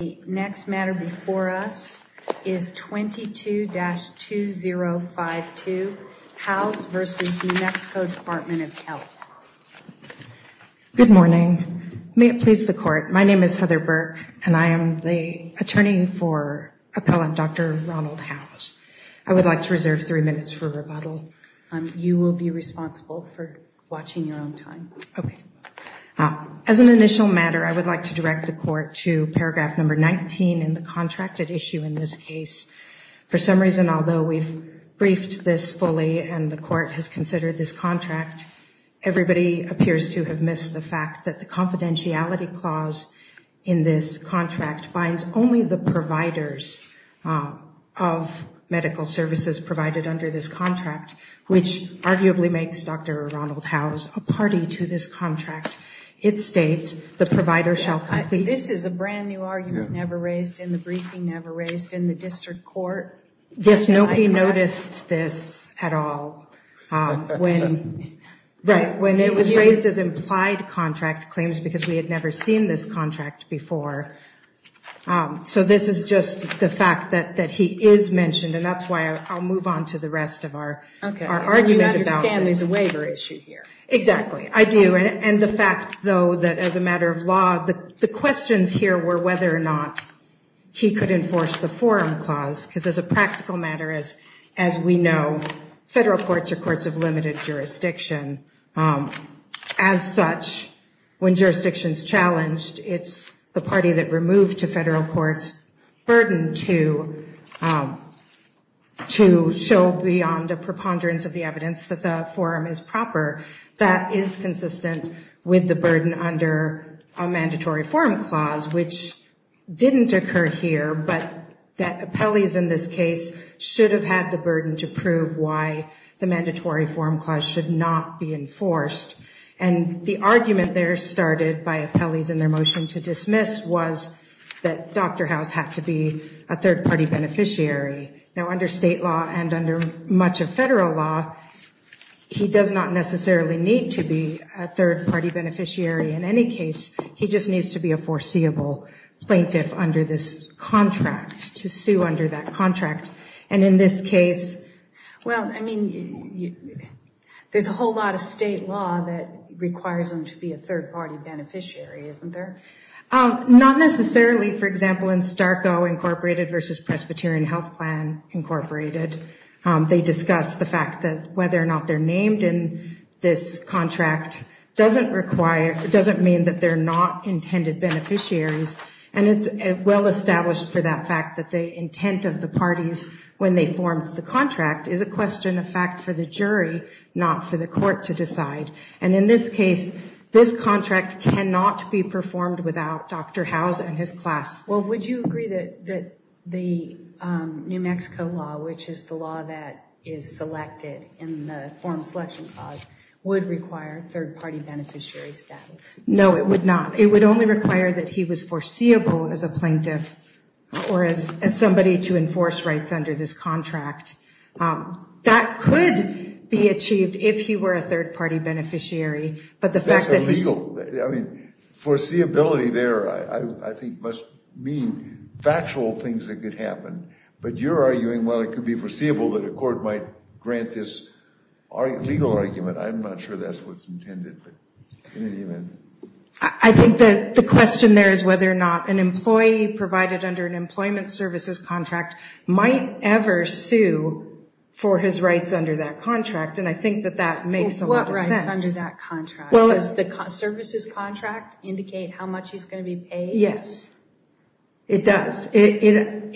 The next matter before us is 22-2052, Howes v. New Mexico Department of Health. Good morning. May it please the Court, my name is Heather Burke and I am the attorney for Appellant Dr. Ronald Howes. I would like to reserve three minutes for rebuttal. You will be responsible for watching your own time. As an initial matter, I would like to direct the Court to paragraph number 19 in the contracted issue in this case. For some reason, although we've briefed this fully and the Court has considered this contract, everybody appears to have missed the fact that the confidentiality clause in this contract binds only the providers of medical services provided under this contract, which arguably makes Dr. Ronald Howes a party to this contract. It states, the provider shall complete. This is a brand new argument never raised in the briefing, never raised in the district court. Yes, nobody noticed this at all. When it was raised as implied contract claims because we had never seen this contract before. So this is just the fact that he is mentioned and that's why I'll move on to the rest of our argument about this. Okay, you understand there's a waiver issue here. Exactly, I do. And the fact, though, that as a matter of law, the questions here were whether or not he could enforce the forum clause because as a practical matter, as we know, federal courts are courts of limited jurisdiction. As such, when jurisdiction is challenged, it's the party that removed to federal courts burden to show beyond a preponderance of the evidence that the forum is proper. That is consistent with the burden under a mandatory forum clause, which didn't occur here, but that appellees in this case should have had the burden to prove why the mandatory forum clause should not be enforced. And the argument there started by appellees in their motion to dismiss was that Dr. House had to be a third-party beneficiary. Now, under state law and under much of federal law, he does not necessarily need to be a third-party beneficiary in any case. He just needs to be a foreseeable plaintiff under this contract to sue under that contract. And in this case, well, I mean, there's a whole lot of state law that requires him to be a third-party beneficiary, isn't there? Not necessarily. For example, in Starco Incorporated versus Presbyterian Health Plan Incorporated, they discuss the fact that whether or not they're named in this contract doesn't mean that they're not intended beneficiaries. And it's well established for that fact that the intent of the parties when they formed the contract is a question of fact for the jury, not for the court to decide. And in this case, this contract cannot be performed without Dr. House and his class. Well, would you agree that the New Mexico law, which is the law that is selected in the forum selection clause, would require third-party beneficiary status? No, it would not. It would only require that he was foreseeable as a plaintiff or as somebody to enforce rights under this contract. That could be achieved if he were a third-party beneficiary. I mean, foreseeability there, I think, must mean factual things that could happen. But you're arguing, well, it could be foreseeable that a court might grant this legal argument. I'm not sure that's what's intended. I think the question there is whether or not an employee provided under an employment services contract might ever sue for his rights under that contract. And I think that that makes a lot of sense. Does the services contract indicate how much he's going to be paid? Yes, it does. In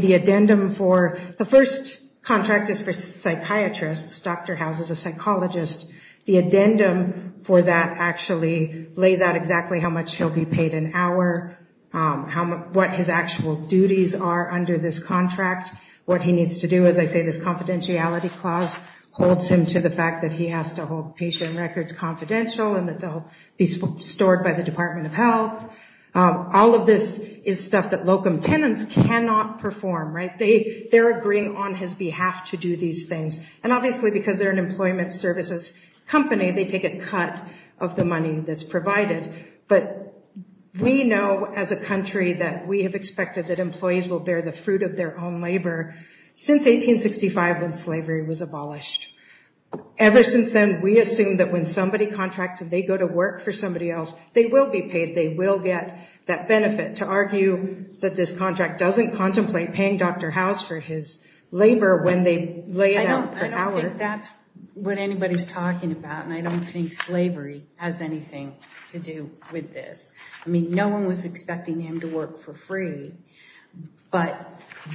the addendum for the first contract is for psychiatrists, Dr. House is a psychologist. The addendum for that actually lays out exactly how much he'll be paid an hour, what his actual duties are under this contract. What he needs to do, as I say, this confidentiality clause holds him to the fact that he has to hold patient records confidential and that they'll be stored by the Department of Health. All of this is stuff that locum tenens cannot perform, right? They're agreeing on his behalf to do these things. And obviously, because they're an employment services company, they take a cut of the money that's provided. But we know as a country that we have expected that employees will bear the fruit of their own labor since 1865 when slavery was abolished. Ever since then, we assume that when somebody contracts and they go to work for somebody else, they will be paid. They will get that benefit. To argue that this contract doesn't contemplate paying Dr. House for his labor when they lay it out per hour. I think that's what anybody's talking about. And I don't think slavery has anything to do with this. I mean, no one was expecting him to work for free. But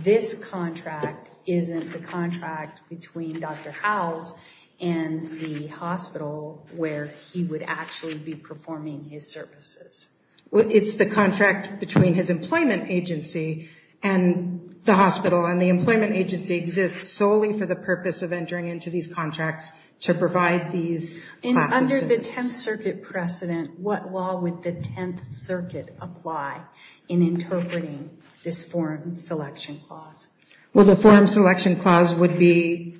this contract isn't the contract between Dr. House and the hospital where he would actually be performing his services. It's the contract between his employment agency and the hospital. And the employment agency exists solely for the purpose of entering into these contracts to provide these classes of services. And under the Tenth Circuit precedent, what law would the Tenth Circuit apply in interpreting this form selection clause? Well, the form selection clause would be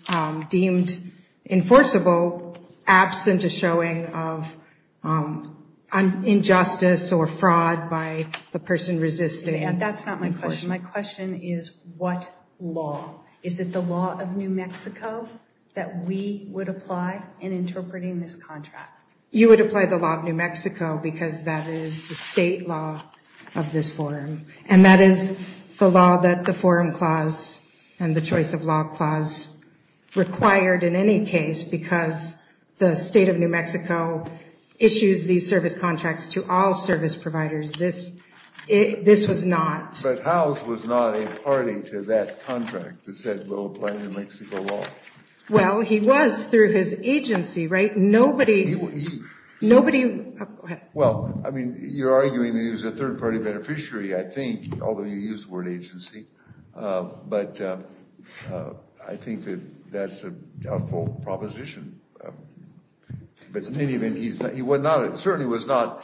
deemed enforceable absent a showing of injustice or fraud by the person resisting. And that's not my question. My question is what law? Is it the law of New Mexico that we would apply in interpreting this contract? You would apply the law of New Mexico because that is the state law of this forum. And that is the law that the forum clause and the choice of law clause required in any case because the state of New Mexico issues these service contracts to all service providers. This was not. But House was not a party to that contract that said we'll apply New Mexico law. Well, he was through his agency, right? Nobody. Well, I mean, you're arguing that he was a third party beneficiary, I think, although you use the word agency. But I think that that's a doubtful proposition. But he certainly was not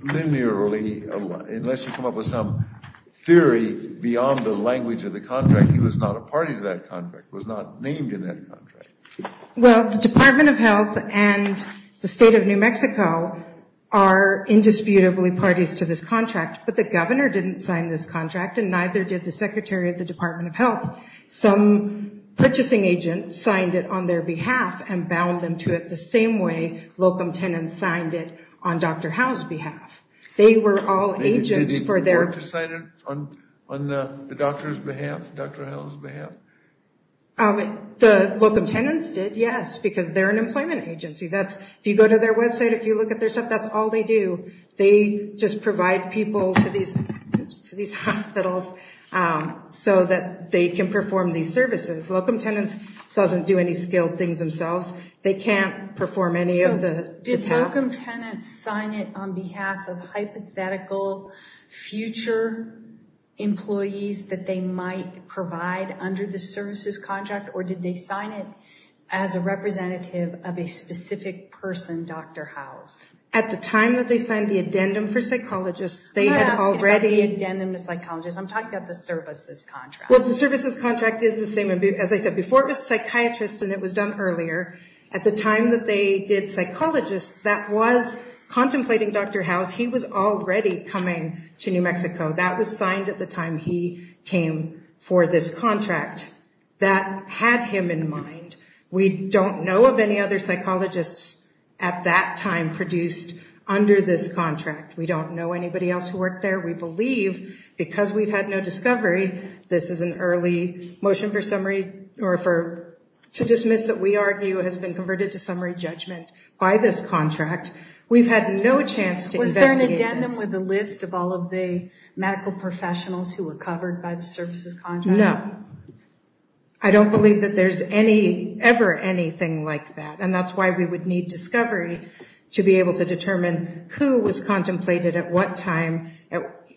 linearly unless you come up with some theory beyond the language of the contract. He was not a party to that contract, was not named in that contract. Well, the Department of Health and the state of New Mexico are indisputably parties to this contract. But the governor didn't sign this contract, and neither did the secretary of the Department of Health. Some purchasing agent signed it on their behalf and bound them to it the same way locum tenens signed it on Dr. Howell's behalf. They were all agents for their. Did he report to sign it on the doctor's behalf, Dr. Howell's behalf? The locum tenens did, yes, because they're an employment agency. If you go to their website, if you look at their stuff, that's all they do. They just provide people to these hospitals so that they can perform these services. Locum tenens doesn't do any skilled things themselves. They can't perform any of the tasks. Did the locum tenens sign it on behalf of hypothetical future employees that they might provide under the services contract, or did they sign it as a representative of a specific person, Dr. Howell's? At the time that they signed the addendum for psychologists, they had already. Yes, the addendum to psychologists. I'm talking about the services contract. Well, the services contract is the same, as I said, before it was psychiatrists and it was done earlier. At the time that they did psychologists, that was contemplating Dr. Howell's. He was already coming to New Mexico. That was signed at the time he came for this contract. That had him in mind. We don't know of any other psychologists at that time produced under this contract. We don't know anybody else who worked there. We believe, because we've had no discovery, this is an early motion for summary, or to dismiss that we argue has been converted to summary judgment by this contract. We've had no chance to investigate this. Was there an addendum with a list of all of the medical professionals who were covered by the services contract? No. I don't believe that there's ever anything like that, and that's why we would need discovery to be able to determine who was contemplated at what time,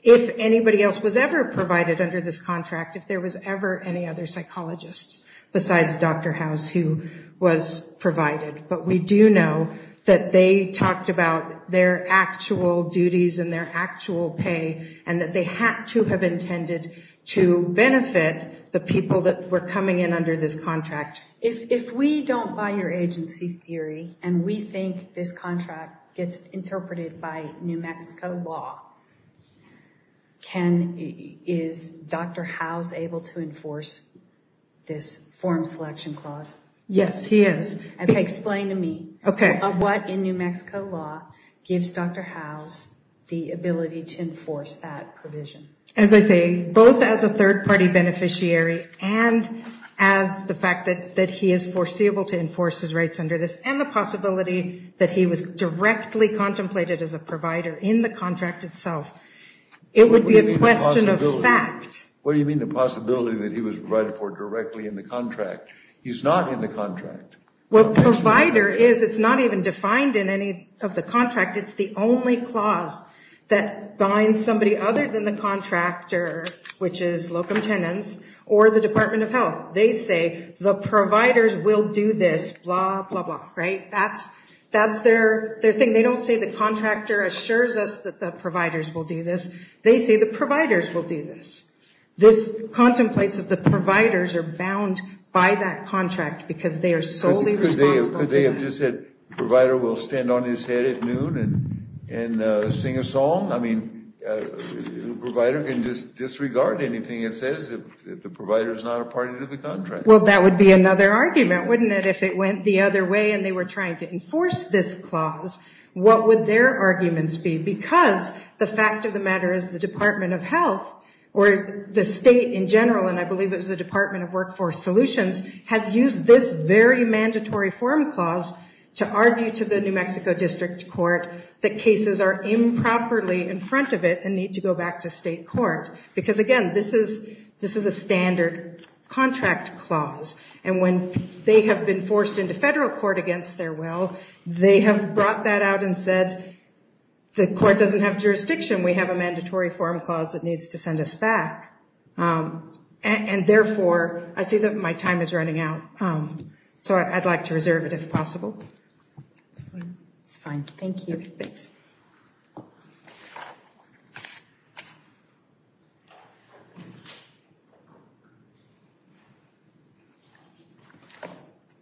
if anybody else was ever provided under this contract, if there was ever any other psychologists besides Dr. Howes who was provided. But we do know that they talked about their actual duties and their actual pay, and that they had to have intended to benefit the people that were coming in under this contract. If we don't buy your agency theory, and we think this contract gets interpreted by New Mexico law, is Dr. Howes able to enforce this form selection clause? Yes, he is. Explain to me what in New Mexico law gives Dr. Howes the ability to enforce that provision. As I say, both as a third-party beneficiary and as the fact that he is foreseeable to enforce his rights under this, and the possibility that he was directly contemplated as a provider in the contract itself, it would be a question of fact. What do you mean the possibility that he was provided for directly in the contract? He's not in the contract. Well, provider is, it's not even defined in any of the contract. It's the only clause that binds somebody other than the contractor, which is locum tenens, or the Department of Health. They say the providers will do this, blah, blah, blah, right? That's their thing. They don't say the contractor assures us that the providers will do this. They say the providers will do this. This contemplates that the providers are bound by that contract because they are solely responsible for that. Could they have just said the provider will stand on his head at noon and sing a song? I mean, the provider can just disregard anything it says if the provider is not a party to the contract. Well, that would be another argument, wouldn't it? If it went the other way and they were trying to enforce this clause, what would their arguments be? Because the fact of the matter is the Department of Health, or the state in general, and I believe it was the Department of Workforce Solutions, has used this very mandatory forum clause to argue to the New Mexico District Court that cases are improperly in front of it and need to go back to state court. Because, again, this is a standard contract clause. And when they have been forced into federal court against their will, they have brought that out and said the court doesn't have jurisdiction. We have a mandatory forum clause that needs to send us back. And, therefore, I see that my time is running out. So I'd like to reserve it if possible. It's fine. Thank you. Thanks.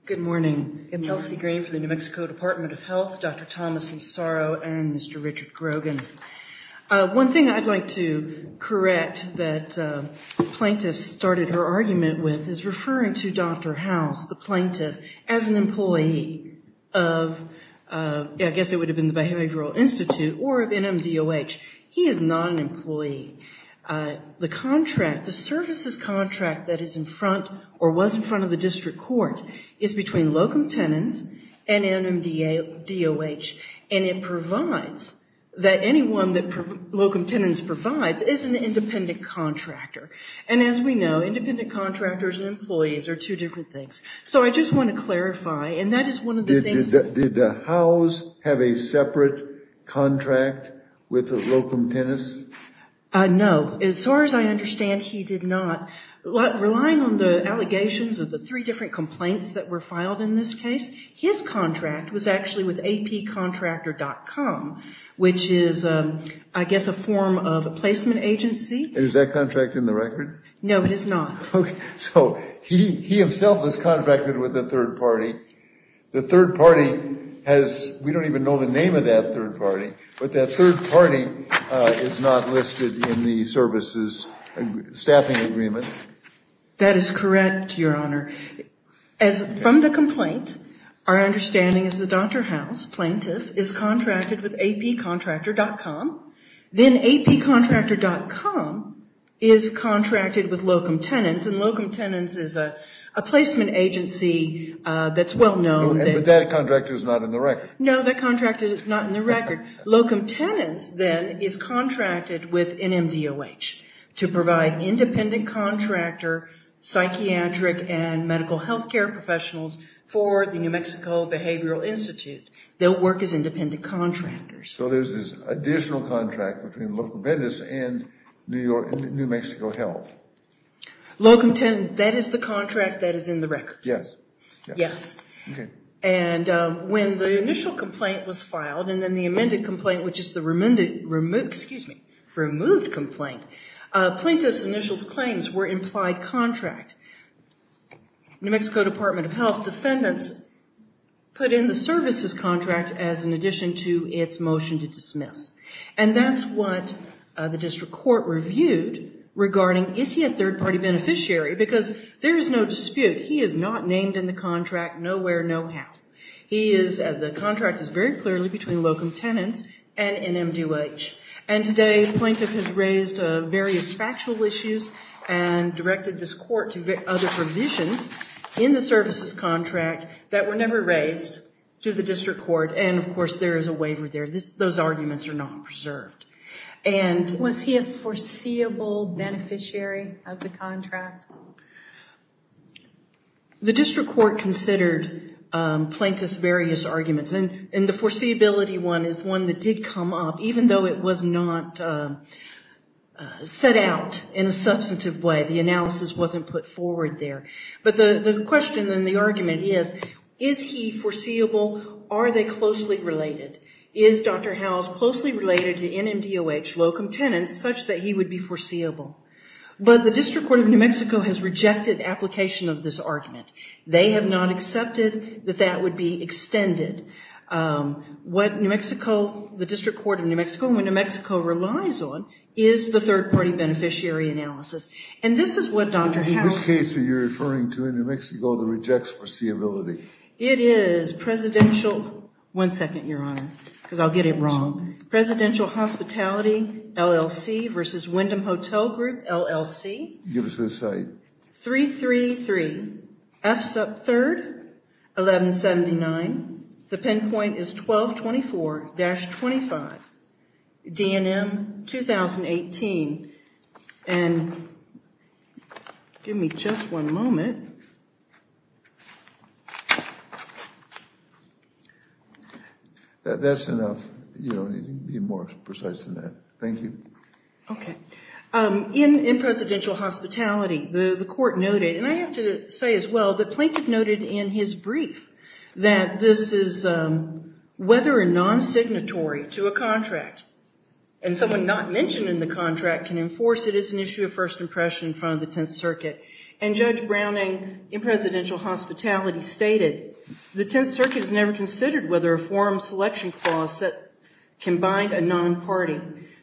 Good morning. Good morning. Kelsey Green from the New Mexico Department of Health, Dr. Thomas Lazzaro, and Mr. Richard Grogan. One thing I'd like to correct that the plaintiff started her argument with is referring to Dr. House, the plaintiff, as an employee of, I guess it would have been the Behavioral Institute, or of NMDOH. He is not an employee. The contract, the services contract that is in front or was in front of the district court, is between Locum Tenens and NMDOH. And it provides that anyone that Locum Tenens provides is an independent contractor. And, as we know, independent contractors and employees are two different things. So I just want to clarify. And that is one of the things that — Did House have a separate contract with Locum Tenens? No. As far as I understand, he did not. Relying on the allegations of the three different complaints that were filed in this case, his contract was actually with APcontractor.com, which is, I guess, a form of a placement agency. Is that contract in the record? No, it is not. Okay. So he himself is contracted with a third party. The third party has — we don't even know the name of that third party. But that third party is not listed in the services staffing agreement. That is correct, Your Honor. From the complaint, our understanding is that Dr. House, plaintiff, is contracted with APcontractor.com. Then APcontractor.com is contracted with Locum Tenens. And Locum Tenens is a placement agency that's well known. But that contract is not in the record. No, that contract is not in the record. Locum Tenens, then, is contracted with NMDOH to provide independent contractor, psychiatric and medical health care professionals for the New Mexico Behavioral Institute. They'll work as independent contractors. So there's this additional contract between Locum Tenens and New Mexico Health. Locum Tenens, that is the contract that is in the record. Yes. Yes. Okay. And when the initial complaint was filed and then the amended complaint, which is the removed complaint, plaintiff's initial claims were implied contract. New Mexico Department of Health defendants put in the services contract as an addition to its motion to dismiss. And that's what the district court reviewed regarding, is he a third party beneficiary? Because there is no dispute. He is not named in the contract, no where, no how. The contract is very clearly between Locum Tenens and NMDOH. And today, the plaintiff has raised various factual issues and directed this court to other provisions in the services contract that were never raised to the district court. And, of course, there is a waiver there. Those arguments are not preserved. Was he a foreseeable beneficiary of the contract? The district court considered plaintiff's various arguments. And the foreseeability one is one that did come up, even though it was not set out in a substantive way. The analysis wasn't put forward there. But the question and the argument is, is he foreseeable? Are they closely related? Is Dr. Howells closely related to NMDOH, Locum Tenens, such that he would be foreseeable? But the district court of New Mexico has rejected application of this argument. They have not accepted that that would be extended. What New Mexico, the district court of New Mexico, and what New Mexico relies on is the third party beneficiary analysis. And this is what Dr. Howells. In this case, are you referring to a New Mexico that rejects foreseeability? It is presidential. One second, Your Honor, because I'll get it wrong. Presidential Hospitality, LLC, versus Wyndham Hotel Group, LLC. Give us the site. 333. F's up third. 1179. The pinpoint is 1224-25. DNM 2018. And give me just one moment. That's enough. You don't need to be more precise than that. Thank you. Okay. In Presidential Hospitality, the court noted, and I have to say as well, the plaintiff noted in his brief that this is whether or non-signatory to a contract. And someone not mentioned in the contract can enforce it as an issue of first impression in front of the Tenth Circuit. And Judge Browning in Presidential Hospitality stated, the Tenth Circuit has never considered whether a forum selection clause can bind a non-party.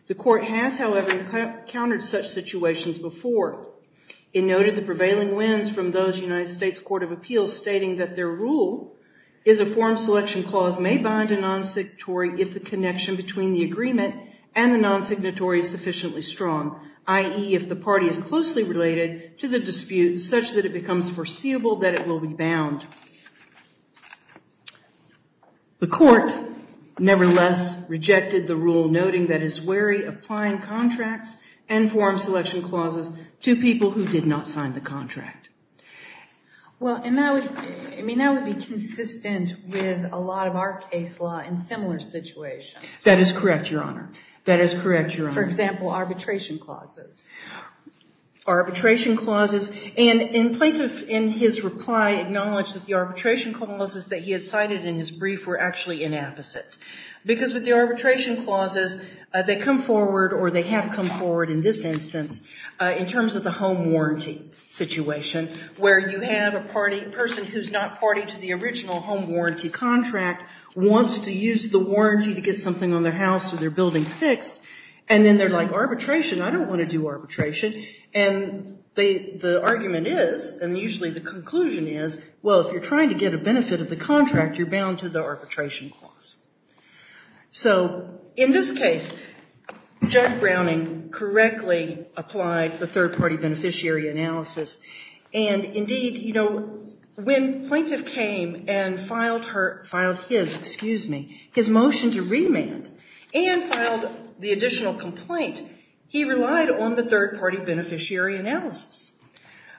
The court has, however, encountered such situations before. It noted the prevailing winds from those United States Court of Appeals stating that their rule is a forum selection clause may bind a non-signatory if the connection between the agreement and the non-signatory is sufficiently strong, i.e., if the party is closely related to the dispute such that it becomes foreseeable that it will be bound. The court, nevertheless, rejected the rule, noting that is wary of applying contracts and forum selection clauses to people who did not sign the contract. Well, and that would be consistent with a lot of our case law in similar situations. That is correct, Your Honor. That is correct, Your Honor. For example, arbitration clauses. Arbitration clauses. And the plaintiff in his reply acknowledged that the arbitration clauses that he had cited in his brief were actually inapposite. Because with the arbitration clauses, they come forward, or they have come forward in this instance, in terms of the home warranty situation, where you have a person who is not party to the original home warranty contract, wants to use the warranty to get something on their house or their building fixed, and then they're like, arbitration? I don't want to do arbitration. And the argument is, and usually the conclusion is, well, if you're trying to get a benefit of the contract, you're bound to the arbitration clause. So in this case, Judge Browning correctly applied the third-party beneficiary analysis. And indeed, you know, when plaintiff came and filed his motion to remand and filed the additional complaint, he relied on the third-party beneficiary analysis.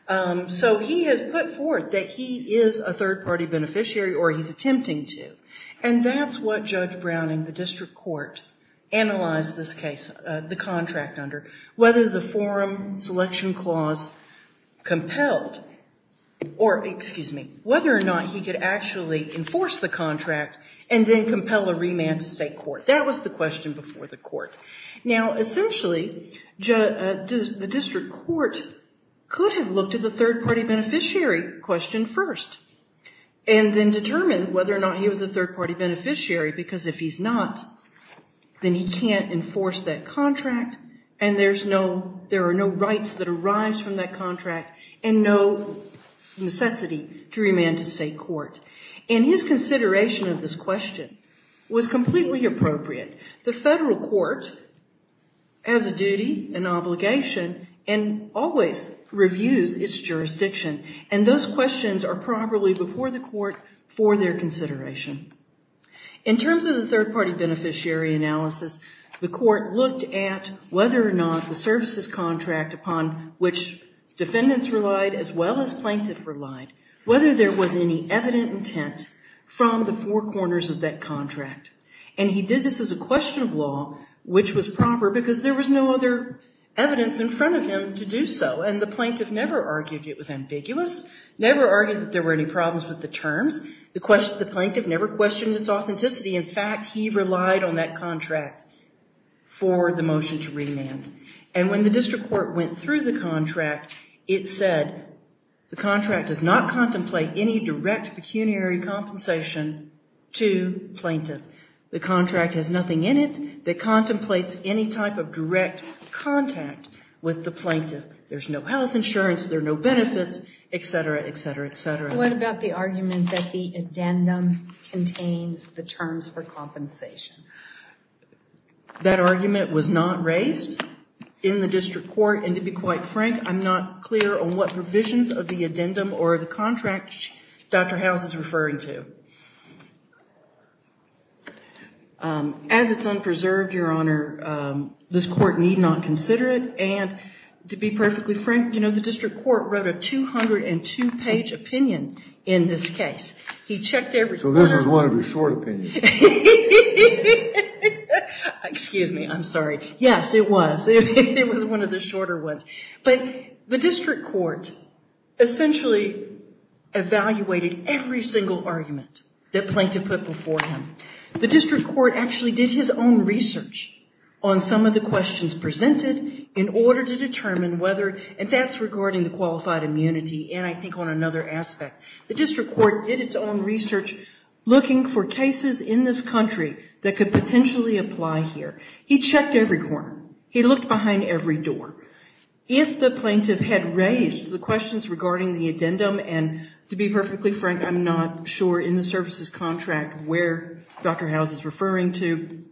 So he has put forth that he is a third-party beneficiary, or he's attempting to. And that's what Judge Browning, the district court, analyzed this case, the contract under, whether the forum selection clause compelled, or excuse me, whether or not he could actually enforce the contract and then compel a remand to state court. That was the question before the court. Now, essentially, the district court could have looked at the third-party beneficiary question first and then determined whether or not he was a third-party beneficiary, because if he's not, then he can't enforce that contract, and there are no rights that arise from that contract and no necessity to remand to state court. And his consideration of this question was completely appropriate. The federal court has a duty, an obligation, and always reviews its jurisdiction. And those questions are properly before the court for their consideration. In terms of the third-party beneficiary analysis, the court looked at whether or not the services contract upon which defendants relied, as well as plaintiff relied, whether there was any evident intent from the four corners of that contract. And he did this as a question of law, which was proper because there was no other evidence in front of him to do so, and the plaintiff never argued it was ambiguous, never argued that there were any problems with the terms. The plaintiff never questioned its authenticity. In fact, he relied on that contract for the motion to remand. And when the district court went through the contract, it said the contract does not contemplate any direct pecuniary compensation to plaintiff. The contract has nothing in it that contemplates any type of direct contact with the plaintiff. There's no health insurance. There are no benefits, et cetera, et cetera, et cetera. What about the argument that the addendum contains the terms for compensation? That argument was not raised in the district court. And to be quite frank, I'm not clear on what provisions of the addendum or the contract Dr. House is referring to. As it's unpreserved, Your Honor, this court need not consider it. And to be perfectly frank, you know, the district court wrote a 202-page opinion in this case. He checked every time. So this was one of his short opinions. Excuse me. I'm sorry. Yes, it was. It was one of the shorter ones. But the district court essentially evaluated every single argument that plaintiff put before him. The district court actually did his own research on some of the questions presented in order to determine whether and that's regarding the qualified immunity and I think on another aspect. The district court did its own research looking for cases in this country that could potentially apply here. He checked every corner. He looked behind every door. If the plaintiff had raised the questions regarding the addendum, and to be perfectly frank, I'm not sure in the services contract where Dr. House is referring to.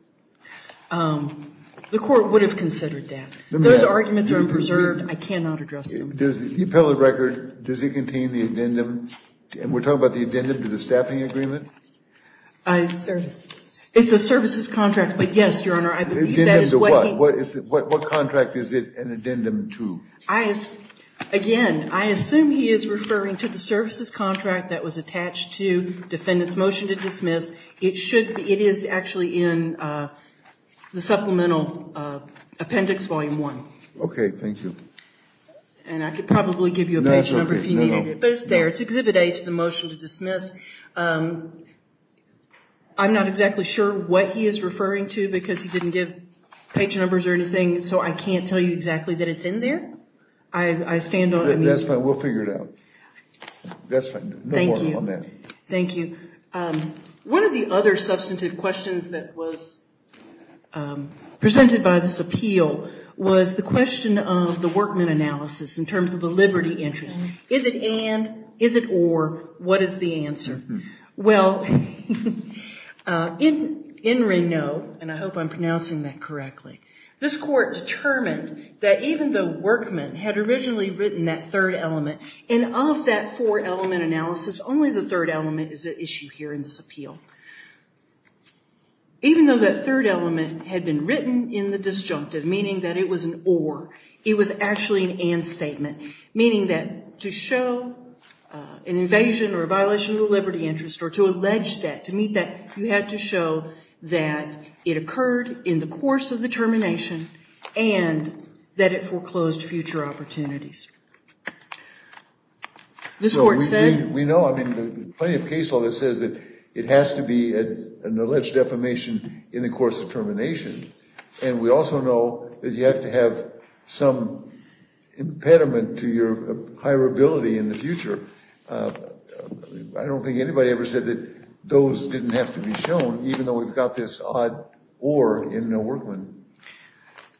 The court would have considered that. Those arguments are unpreserved. I cannot address them. The appellate record, does it contain the addendum? We're talking about the addendum to the staffing agreement? It's a services contract. But yes, Your Honor, I believe that is what he. What contract is it an addendum to? Again, I assume he is referring to the services contract that was attached to defendant's motion to dismiss. It is actually in the supplemental appendix volume one. Okay, thank you. And I could probably give you a page number if you needed it. But it's there. It's exhibit A to the motion to dismiss. I'm not exactly sure what he is referring to because he didn't give page numbers or anything. So I can't tell you exactly that it's in there? That's fine. We'll figure it out. That's fine. No more on that. Thank you. One of the other substantive questions that was presented by this appeal was the question of the workman analysis in terms of the liberty interest. Is it and? Is it or? What is the answer? Well, in Raynaud, and I hope I'm pronouncing that correctly, this court determined that even though workman had originally written that third element, and of that four element analysis, only the third element is at issue here in this appeal. Even though that third element had been written in the disjunctive, meaning that it was an or, it was actually an and statement, meaning that to show an invasion or a violation of the liberty interest or to allege that, to meet that, you had to show that it occurred in the course of the termination and that it foreclosed future opportunities. This court said? We know. I mean, there's plenty of case law that says that it has to be an alleged defamation in the course of termination. And we also know that you have to have some impediment to your hireability in the future. I don't think anybody ever said that those didn't have to be shown, even though we've got this odd or in the workman.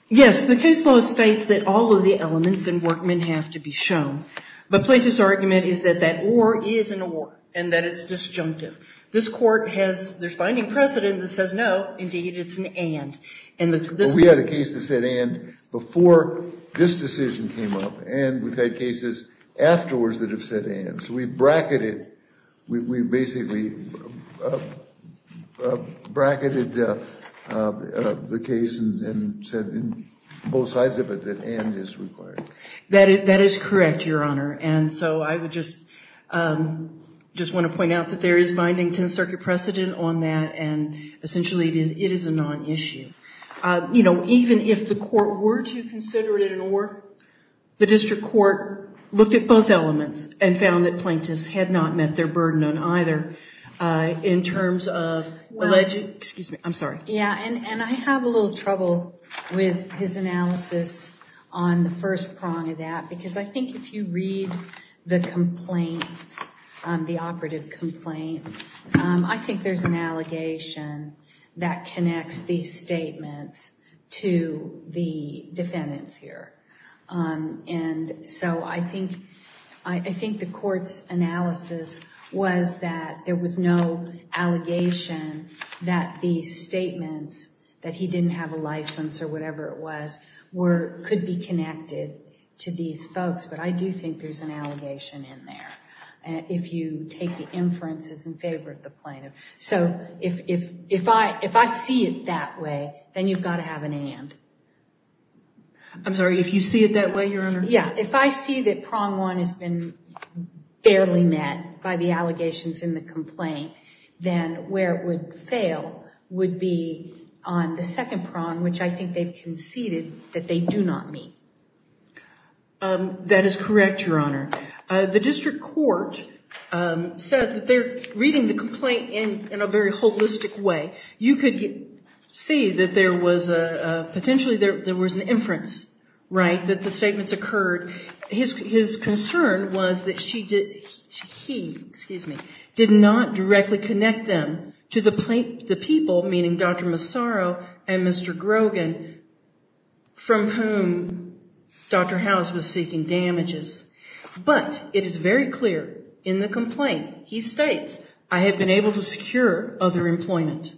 Yes, the case law states that all of the elements in workman have to be shown. But Plaintiff's argument is that that or is an or and that it's disjunctive. This court has their binding precedent that says, no, indeed, it's an and. We had a case that said and before this decision came up. And we've had cases afterwards that have said and. So we bracketed, we basically bracketed the case and said on both sides of it that and is required. That is correct, Your Honor. And so I would just just want to point out that there is binding to the circuit precedent on that. And essentially it is a non-issue. You know, even if the court were to consider it an or, the district court looked at both elements and found that plaintiffs had not met their burden on either in terms of alleged. Excuse me. I'm sorry. Yeah, and I have a little trouble with his analysis on the first prong of that, because I think if you read the complaints, the operative complaint, I think there's an allegation that connects these statements to the defendants here. And so I think the court's analysis was that there was no allegation that the statements that he didn't have a license or whatever it was could be connected to these folks. But I do think there's an allegation in there, if you take the inferences in favor of the plaintiff. So if I see it that way, then you've got to have an and. I'm sorry, if you see it that way, Your Honor. Yeah. If I see that prong one has been barely met by the allegations in the complaint, then where it would fail would be on the second prong, which I think they've conceded that they do not meet. That is correct, Your Honor. The district court said that they're reading the complaint in a very holistic way. You could see that potentially there was an inference, right, that the statements occurred. His concern was that he did not directly connect them to the people, meaning Dr. Massaro and Mr. Grogan, from whom Dr. Howes was seeking damages. But it is very clear in the complaint, he states, I have been able to secure other employment.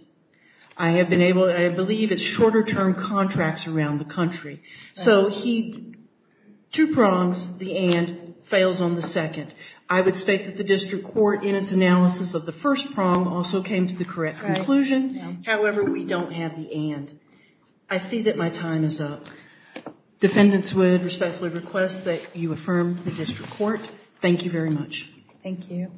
I have been able, I believe it's shorter term contracts around the country. So he, two prongs, the and fails on the second. I would state that the district court in its analysis of the first prong also came to the correct conclusion. However, we don't have the and. I see that my time is up. Defendants would respectfully request that you affirm the district court. Thank you very much. Thank you.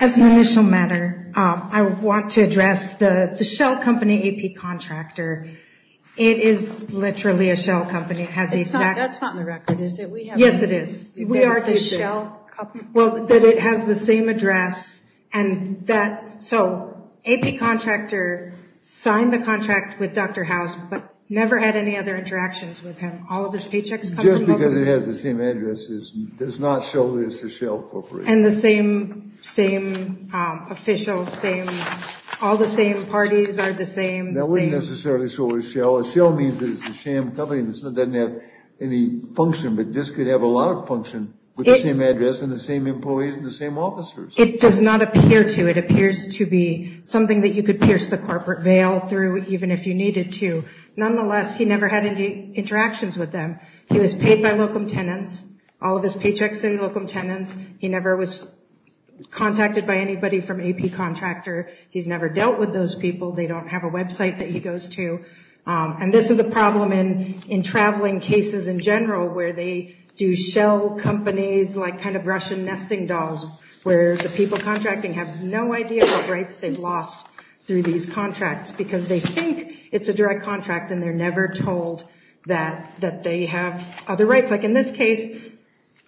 As an initial matter, I want to address the Shell Company AP contractor. It is literally a Shell company. That's not in the record, is it? Yes, it is. It's a Shell company. It has the same address. So AP contractor signed the contract with Dr. Howes, but never had any other interactions with him. All of his paychecks come from over there. Just because it has the same address does not show that it's a Shell company. And the same officials, all the same parties are the same. That wasn't necessarily so with Shell. Shell means that it's a sham company. It doesn't have any function. But this could have a lot of function with the same address and the same employees and the same officers. It does not appear to. It appears to be something that you could pierce the corporate veil through even if you needed to. Nonetheless, he never had any interactions with them. He was paid by locum tenens, all of his paychecks in locum tenens. He never was contacted by anybody from AP contractor. He's never dealt with those people. They don't have a website that he goes to. And this is a problem in traveling cases in general where they do Shell companies like kind of Russian nesting dolls, where the people contracting have no idea what rights they've lost through these contracts because they think it's a direct contract and they're never told that they have other rights. Like in this case,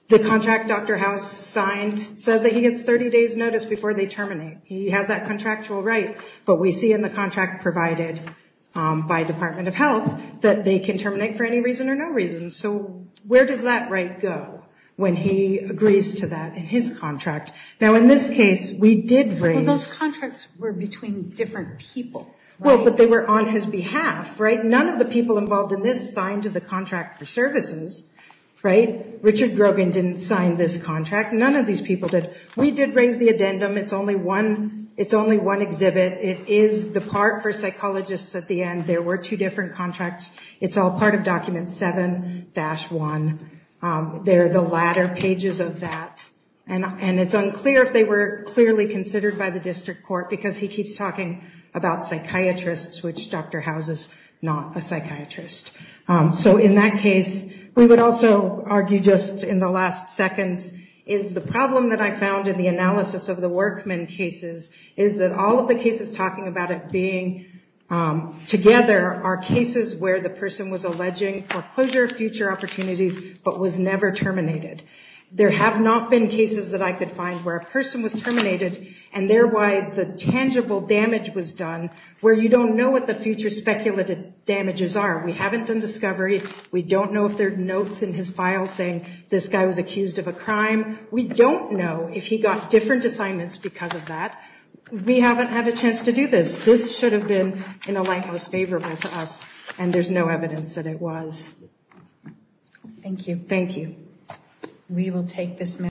the contract Dr. Howes signed says that he gets 30 days' notice before they terminate. He has that contractual right. But we see in the contract provided by Department of Health that they can terminate for any reason or no reason. So where does that right go when he agrees to that in his contract? Now, in this case, we did raise – Well, those contracts were between different people. Well, but they were on his behalf, right? None of the people involved in this signed the contract for services, right? Richard Grogan didn't sign this contract. None of these people did. We did raise the addendum. It's only one exhibit. It is the part for psychologists at the end. There were two different contracts. It's all part of Document 7-1. They're the latter pages of that. And it's unclear if they were clearly considered by the district court because he keeps talking about psychiatrists, which Dr. Howes is not a psychiatrist. So in that case, we would also argue just in the last seconds is the problem that I found in the analysis of the Workman cases is that all of the cases talking about it being together are cases where the person was alleging foreclosure, future opportunities, but was never terminated. There have not been cases that I could find where a person was terminated and thereby the tangible damage was done where you don't know what the future speculated damages are. We haven't done discovery. We don't know if there are notes in his file saying this guy was accused of a crime. We don't know if he got different assignments because of that. We haven't had a chance to do this. This should have been in a light most favorable to us, and there's no evidence that it was. Thank you. Thank you. We will take this.